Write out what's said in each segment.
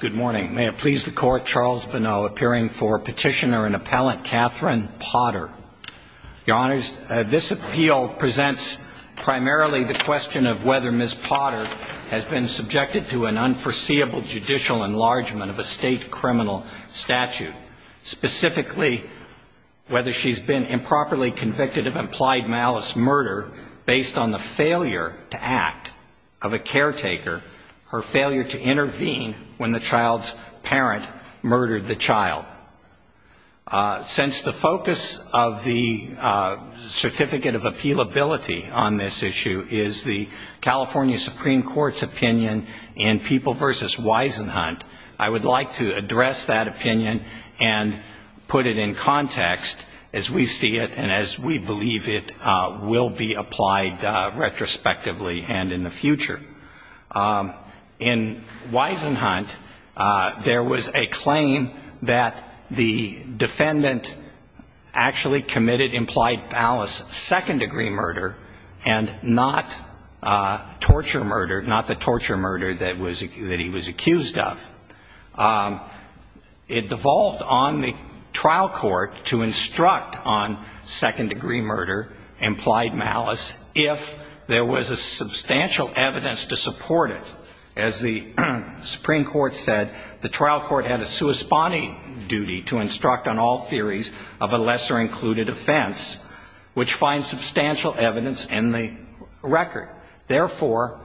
Good morning. May it please the Court, Charles Bonneau appearing for petitioner and appellant Katherine Potter. Your Honors, this appeal presents primarily the question of whether Ms. Potter has been subjected to an unforeseeable judicial enlargement of a state criminal statute. Specifically, whether she's been improperly convicted of implied malice murder based on the failure to act of a caretaker, her failure to intervene when the child's parent murdered the child. Since the focus of the Certificate of Appealability on this issue is the California Supreme Court's opinion in People v. Wisenhunt, I would like to address that opinion and put it in context as we see it and as we believe it will be applied retrospectively and in the future. In Wisenhunt, there was a claim that the defendant actually committed implied malice second-degree murder and not torture murder, not the torture murder that he was accused of. It devolved on the trial court to instruct on second-degree murder, implied malice, if there was a substantial evidence to support it. As the Supreme Court said, the trial court had a corresponding duty to instruct on all theories of a lesser-included offense, which finds substantial evidence in the record. Therefore,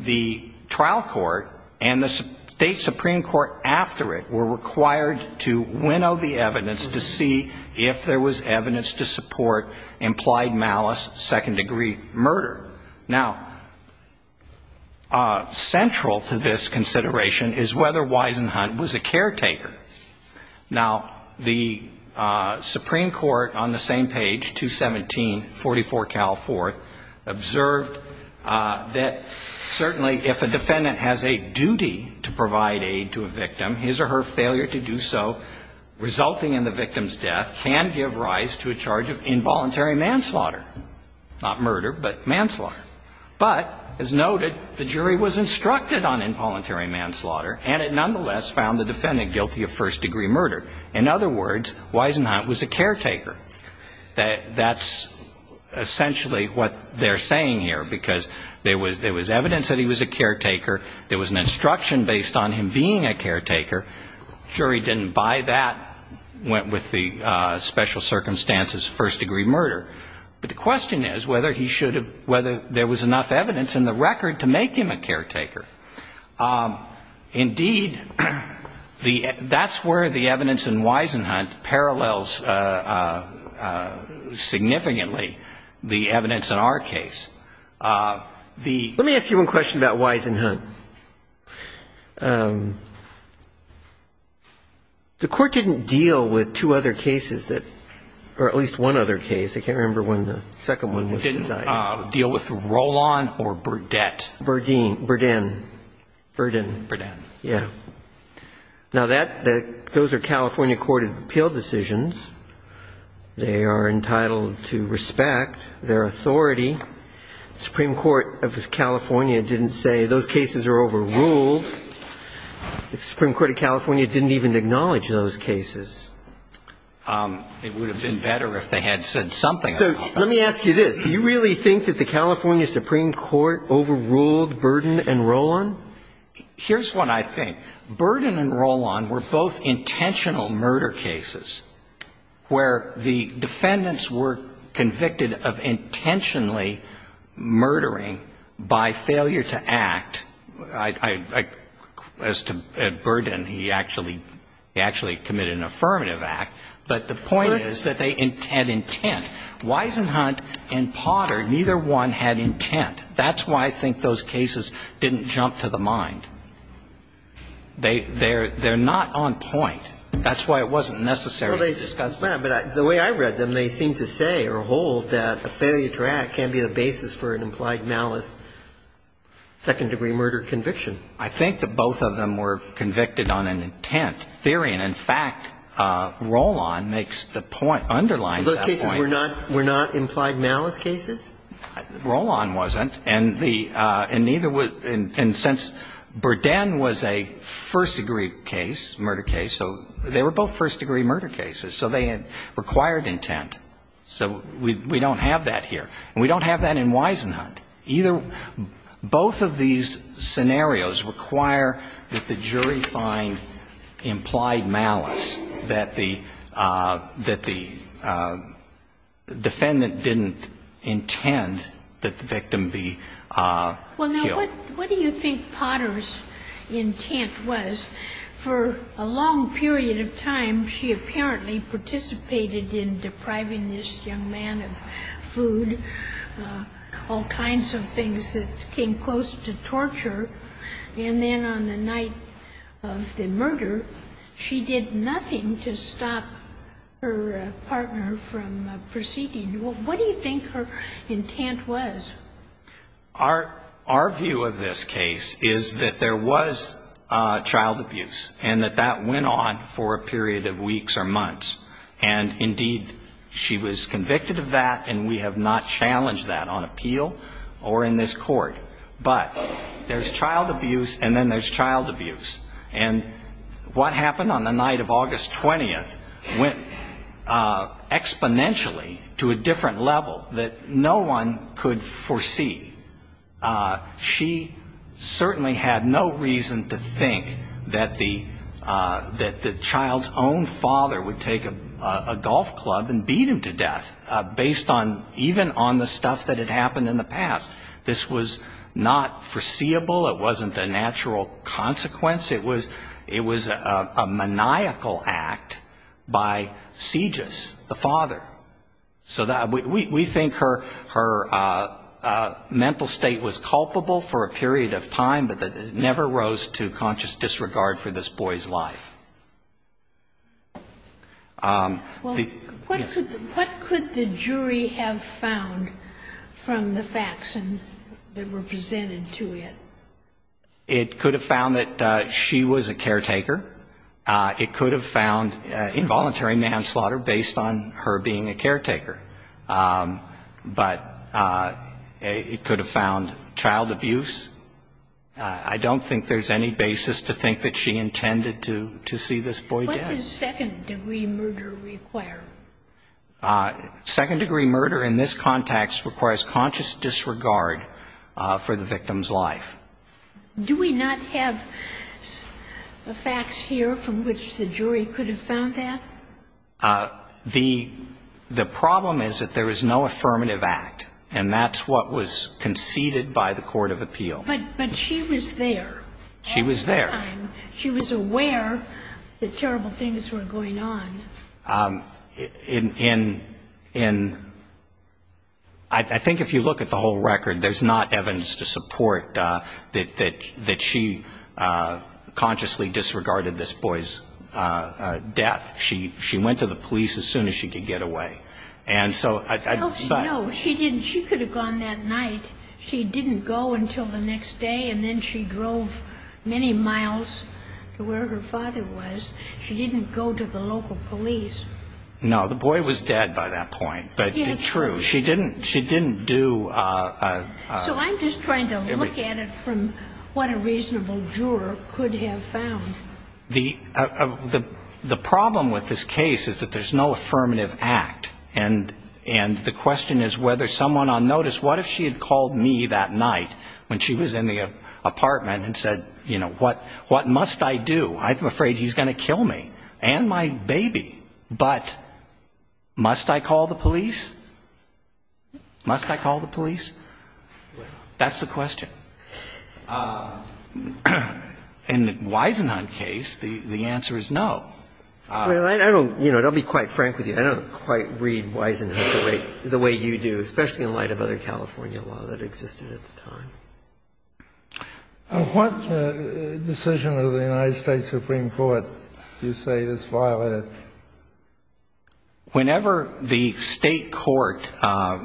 the trial court and the state supreme court after it were required to winnow the evidence to see if there was evidence to support implied malice second-degree murder. Now, central to this consideration is whether Wisenhunt was a caretaker. Now, the Supreme Court on the same page, 21744 Cal 4th, observed that certainly if a defendant has a duty to provide aid to a victim, his or her failure to do so resulting in the victim's death can give rise to a charge of involuntary manslaughter, not murder, but manslaughter. But, as noted, the jury was instructed on involuntary manslaughter, and it nonetheless found the defendant guilty of first-degree murder. In other words, Wisenhunt was a caretaker. That's essentially what they're saying here, because there was evidence that he was a caretaker. There was an instruction based on him being a caretaker. The jury didn't buy that, went with the special circumstances first-degree murder. But the question is whether he should have – whether there was enough evidence in the record to make him a caretaker. Indeed, the – that's where the evidence in Wisenhunt parallels significantly the evidence in our case. The – Let me ask you one question about Wisenhunt. The Court didn't deal with two other cases that – or at least one other case. I can't remember when the second one was decided. It didn't deal with Rolon or Burdette. Burdine. Burdine. Burdine. Burdine. Yeah. Now, that – those are California court of appeal decisions. They are entitled to respect their authority. The Supreme Court of California didn't say those cases are overruled. The Supreme Court of California didn't even acknowledge those cases. It would have been better if they had said something about them. So let me ask you this. Do you really think that the California Supreme Court overruled Burdine and Rolon? Here's what I think. Burdine and Rolon were both intentional murder cases where the defendants were convicted of intentionally murdering by failure to act. As to Burdine, he actually committed an affirmative act. But the point is that they had intent. Wisenhunt and Potter, neither one had intent. That's why I think those cases didn't jump to the mind. They're not on point. That's why it wasn't necessary to discuss them. Well, but the way I read them, they seem to say or hold that a failure to act can't be the basis for an implied malice second-degree murder conviction. I think that both of them were convicted on an intent theory. And in fact, Rolon makes the point, underlines that point. Those cases were not implied malice cases? Rolon wasn't. And the – and neither would – and since Burdine was a first-degree case, murder case, so they were both first-degree murder cases. So they had required intent. So we don't have that here. And we don't have that in Wisenhunt. Either – both of these scenarios require that the jury find implied malice, that the – that the defendant didn't intend that the victim be killed. Well, now, what do you think Potter's intent was? For a long period of time, she apparently participated in depriving this young man of food, all kinds of things that came close to torture. And then on the night of the murder, she did nothing to stop her partner from proceeding. What do you think her intent was? Our view of this case is that there was child abuse and that that went on for a period of weeks or months. And, indeed, she was convicted of that, and we have not challenged that on appeal or in this court. But there's child abuse, and then there's child abuse. And what happened on the night of August 20th went exponentially to a different level that no one could foresee. She certainly had no reason to think that the child's own father would take a golf club and beat him to death based on – even on the stuff that had happened in the past. This was not foreseeable. It wasn't a natural consequence. It was a maniacal act by Segis, the father. So we think her mental state was culpable for a period of time, but that it never rose to conscious disregard for this boy's life. What could the jury have found from the facts that were presented to it? It could have found that she was a caretaker. It could have found involuntary manslaughter based on her being a caretaker. But it could have found child abuse. I don't think there's any basis to think that she intended to see this boy dead. What does second-degree murder require? Second-degree murder in this context requires conscious disregard for the victim's life. Do we not have facts here from which the jury could have found that? The problem is that there is no affirmative act, and that's what was conceded by the court of appeal. But she was there. She was there. At the time, she was aware that terrible things were going on. I think if you look at the whole record, there's not evidence to support that she consciously disregarded this boy's death. She went to the police as soon as she could get away. And so I don't know. No, she didn't. She could have gone that night. She didn't go until the next day, and then she drove many miles to where her father was. She didn't go to the local police. No, the boy was dead by that point, but true. She didn't do a ---- So I'm just trying to look at it from what a reasonable juror could have found. The problem with this case is that there's no affirmative act. And the question is whether someone on notice, what if she had called me that night when she was in the apartment and said, you know, what must I do? I'm afraid he's going to kill me and my baby, but must I call the police? Must I call the police? That's the question. In the Wisenhunt case, the answer is no. I don't, you know, I'll be quite frank with you. I don't quite read Wisenhunt the way you do, especially in light of other California law that existed at the time. What decision of the United States Supreme Court do you say is violated? Whenever the state court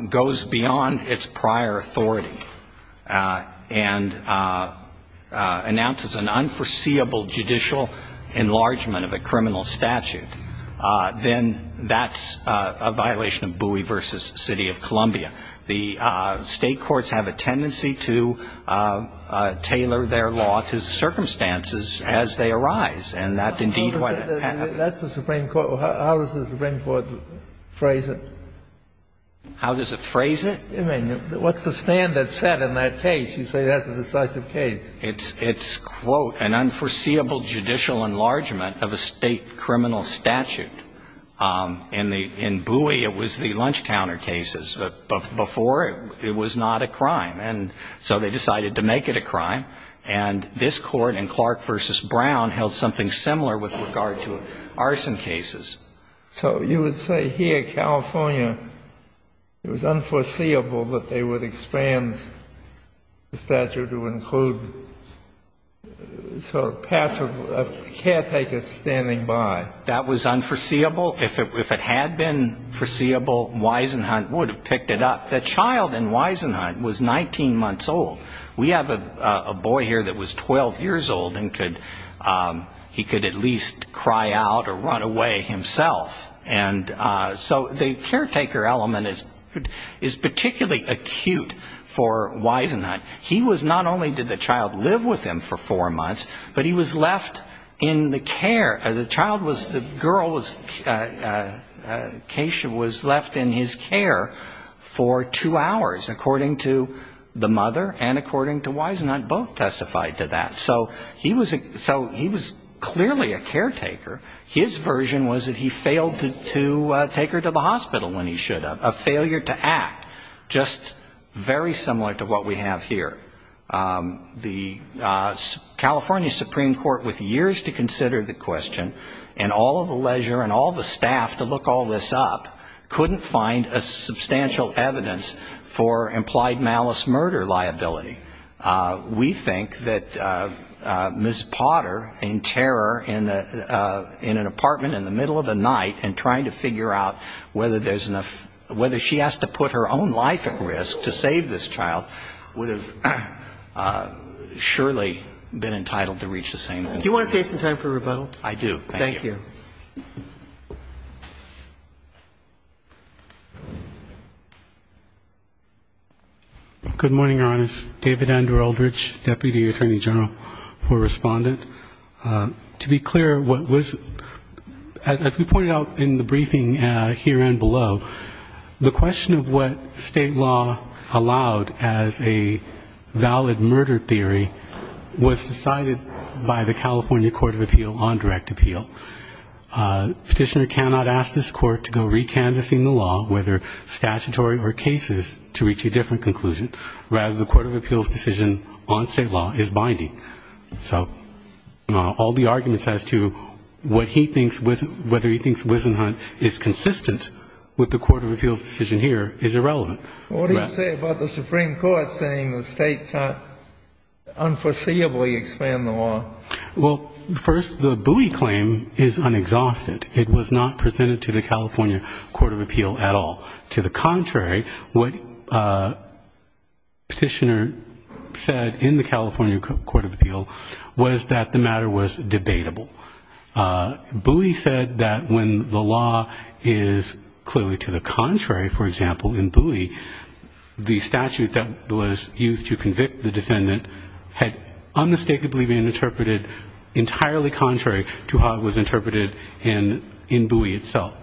goes beyond its prior authority and announces an unforeseeable judicial enlargement of a criminal statute, then that's a violation of Bowie v. City of Columbia. The state courts have a tendency to tailor their law to circumstances as they arise, and that indeed what happens. That's the Supreme Court. How does the Supreme Court phrase it? How does it phrase it? I mean, what's the standard set in that case? You say that's a decisive case. It's, quote, an unforeseeable judicial enlargement of a state criminal statute. In Bowie, it was the lunch counter cases. Before, it was not a crime, and so they decided to make it a crime. And this Court in Clark v. Brown held something similar with regard to arson cases. So you would say here, California, it was unforeseeable that they would expand the statute to include sort of passive caretakers standing by. That was unforeseeable. If it had been foreseeable, Wisenhunt would have picked it up. The child in Wisenhunt was 19 months old. We have a boy here that was 12 years old, and he could at least cry out or run away himself. And so the caretaker element is particularly acute for Wisenhunt. He was not only did the child live with him for four months, but he was left in the care. The child was the girl was left in his care for two hours, according to the mother and according to Wisenhunt, both testified to that. So he was clearly a caretaker. His version was that he failed to take her to the hospital when he should have, a failure to act, just very similar to what we have here. The California Supreme Court, with years to consider the question, and all of the leisure and all of the staff to look all this up, couldn't find a substantial evidence for implied malice murder liability. We think that Ms. Potter, in terror, in an apartment in the middle of the night, and trying to figure out whether there's enough, whether she has to put her own life at risk to save this child, would have surely been entitled to reach the same conclusion. Do you want to save some time for rebuttal? I do, thank you. Thank you. Good morning, Your Honors. David Andrew Eldridge, Deputy Attorney General for Respondent. To be clear, what was, as we pointed out in the briefing here and below, the question of what state law allowed as a valid murder theory was decided by the California Court of Appeal on direct appeal. Petitioner cannot ask this court to go recanvassing the law, whether statutory or cases, to reach a different conclusion. Rather, the Court of Appeal's decision on state law is binding. So all the arguments as to what he thinks, whether he thinks Wisenhunt is consistent with the Court of Appeal's decision here is irrelevant. What do you say about the Supreme Court saying the state can't unforeseeably expand the law? Well, first, the Bowie claim is unexhausted. It was not presented to the California Court of Appeal at all. To the contrary, what Petitioner said in the California Court of Appeal was that the matter was debatable. Bowie said that when the law is clearly to the contrary, for example, in Bowie, the statute that was used to convict the defendant had unmistakably been interpreted entirely contrary to how it was interpreted in Bowie itself.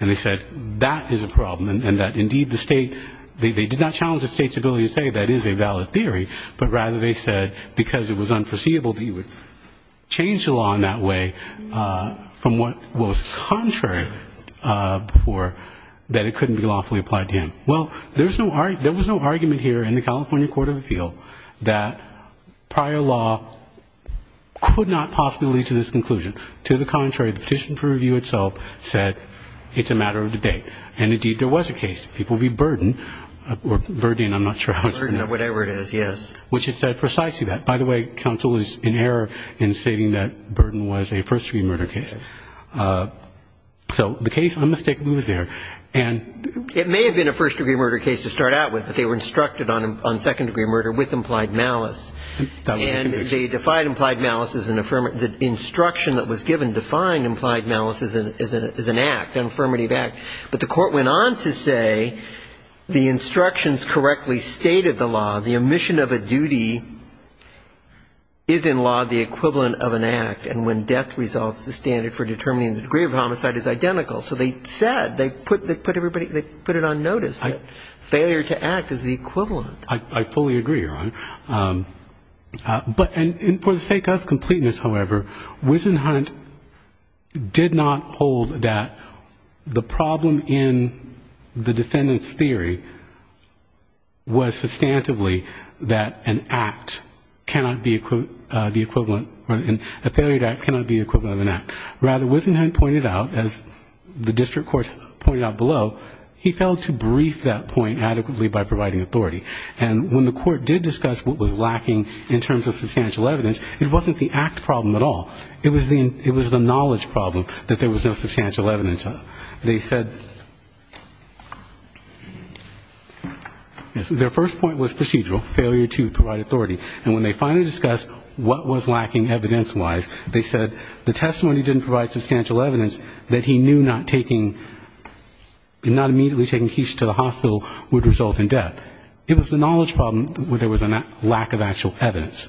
And they said that is a problem and that indeed the state, they did not challenge the state's ability to say that is a valid theory, but rather they said because it was unforeseeable that you would change the law in that way from what was contrary before that it couldn't be lawfully applied to him. Well, there was no argument here in the California Court of Appeal that prior law could not possibly lead to this conclusion. To the contrary, the petition for review itself said it's a matter of debate. And indeed, there was a case. It will be burdened or burdened, I'm not sure how it's pronounced. Burdened or whatever it is, yes. Which it said precisely that. By the way, counsel is in error in stating that burden was a first-degree murder case. Okay. So the case unmistakably was there. It may have been a first-degree murder case to start out with, but they were instructed on second-degree murder with implied malice. And they defied implied malice as an affirmative. The instruction that was given defined implied malice as an act, an affirmative act. But the court went on to say the instructions correctly stated the law. The omission of a duty is in law the equivalent of an act. And when death results, the standard for determining the degree of homicide is identical. So they said, they put it on notice that failure to act is the equivalent. I fully agree, Your Honor. But for the sake of completeness, however, Wisenhunt did not hold that the problem in the defendant's theory was substantively that an act cannot be the equivalent, a failure to act cannot be the equivalent of an act. Rather, Wisenhunt pointed out, as the district court pointed out below, he failed to brief that point adequately by providing authority. And when the court did discuss what was lacking in terms of substantial evidence, it wasn't the act problem at all. It was the knowledge problem that there was no substantial evidence of. They said their first point was procedural, failure to provide authority. And when they finally discussed what was lacking evidence-wise, they said the testimony didn't provide substantial evidence that he knew not taking, not immediately taking Keach to the hospital would result in death. So it was the knowledge problem where there was a lack of actual evidence.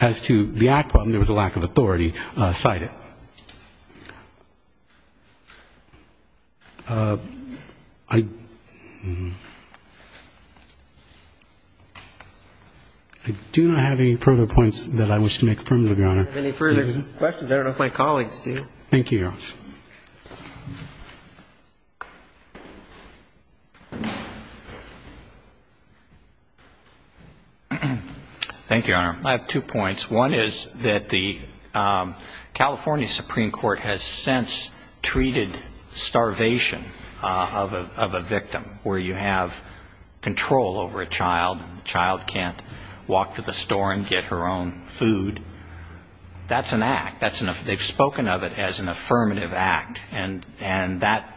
As to the act problem, there was a lack of authority cited. I do not have any further points that I wish to make, Your Honor. I don't have any further questions. I don't know if my colleagues do. Thank you, Your Honor. Thank you, Your Honor. I have two points. One is that the California Supreme Court has since treated starvation of a victim, where you have control over a child and the child can't walk to the store and get her own food. That's an act. That's an act. They've spoken of it as an affirmative act. And that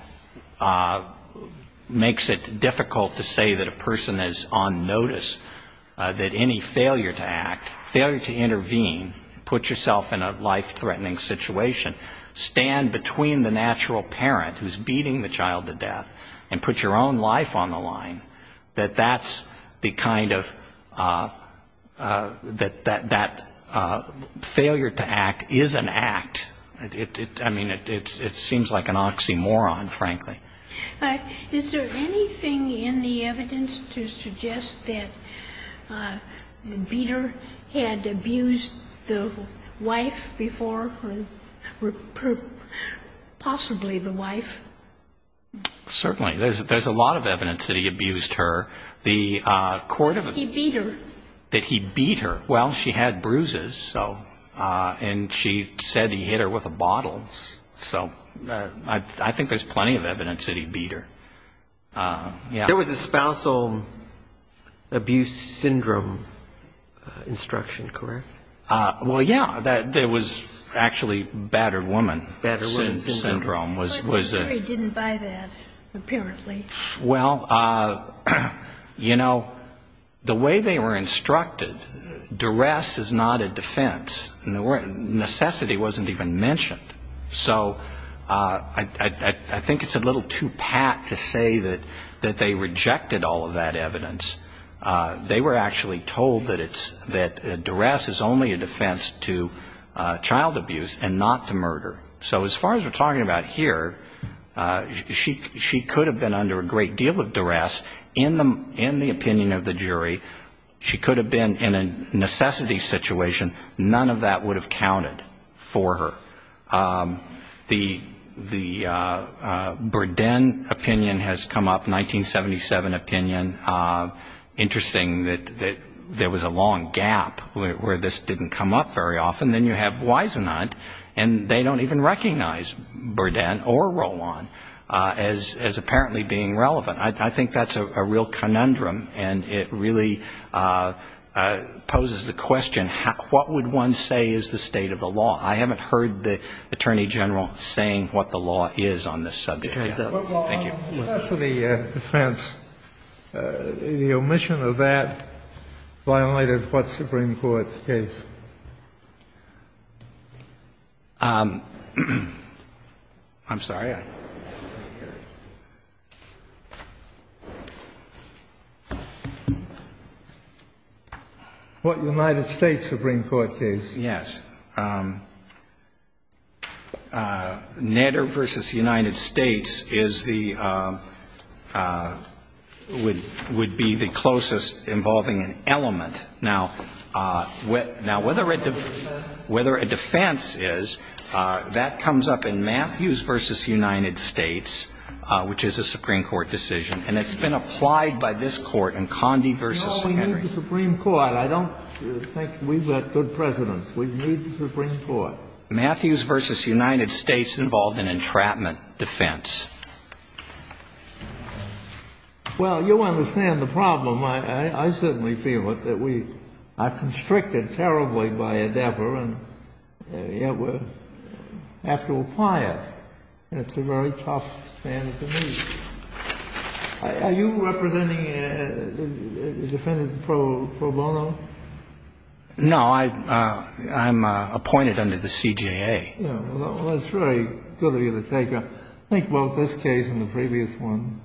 makes it difficult to say that a person is on notice, that any failure to act, failure to intervene, put yourself in a life-threatening situation, stand between the natural parent who's beating the child to death and put your own life on the line, that that's the kind of that failure to act is an act. I mean, it seems like an oxymoron, frankly. Is there anything in the evidence to suggest that Beater had abused the wife before, possibly the wife? Certainly. There's a lot of evidence that he abused her. He beat her. That he beat her. Well, she had bruises, and she said he hit her with a bottle. So I think there's plenty of evidence that he beat her. There was a spousal abuse syndrome instruction, correct? Well, yeah. There was actually battered woman syndrome. But the jury didn't buy that, apparently. Well, you know, the way they were instructed, duress is not a defense. Necessity wasn't even mentioned. So I think it's a little too pat to say that they rejected all of that evidence. They were actually told that duress is only a defense to child abuse and not to murder. So as far as we're talking about here, she could have been under a great deal of duress in the opinion of the jury. She could have been in a necessity situation. None of that would have counted for her. The Burden opinion has come up, 1977 opinion. Interesting that there was a long gap where this didn't come up very often. Then you have Wisenant, and they don't even recognize Burden or Rowan as apparently being relevant. I think that's a real conundrum, and it really poses the question, what would one say is the state of the law? I haven't heard the Attorney General saying what the law is on this subject yet. Thank you. The defense, the omission of that violated what Supreme Court case? I'm sorry. What United States Supreme Court case? Yes. The case of Nedder v. United States is the – would be the closest involving an element. Now, whether a defense is, that comes up in Matthews v. United States, which is a Supreme Court decision, and it's been applied by this Court in Condie v. Henry. No, we need the Supreme Court. I don't think we've got good presidents. We need the Supreme Court. Matthews v. United States involved in entrapment defense. Well, you understand the problem. I certainly feel it, that we are constricted terribly by Endeavor, and yet we have to apply it. It's a very tough standard to meet. Are you representing a defendant pro bono? No. I'm appointed under the CJA. Well, that's very good of you to take up. I think both this case and the previous one,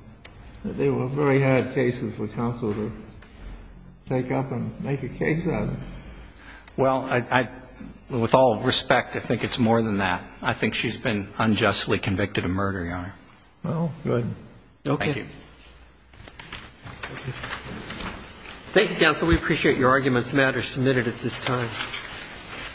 they were very hard cases for counsel to take up and make a case out of. Well, with all respect, I think it's more than that. I think she's been unjustly convicted of murder, Your Honor. Well, good. Thank you. Thank you, counsel. We appreciate your arguments. The matter is submitted at this time.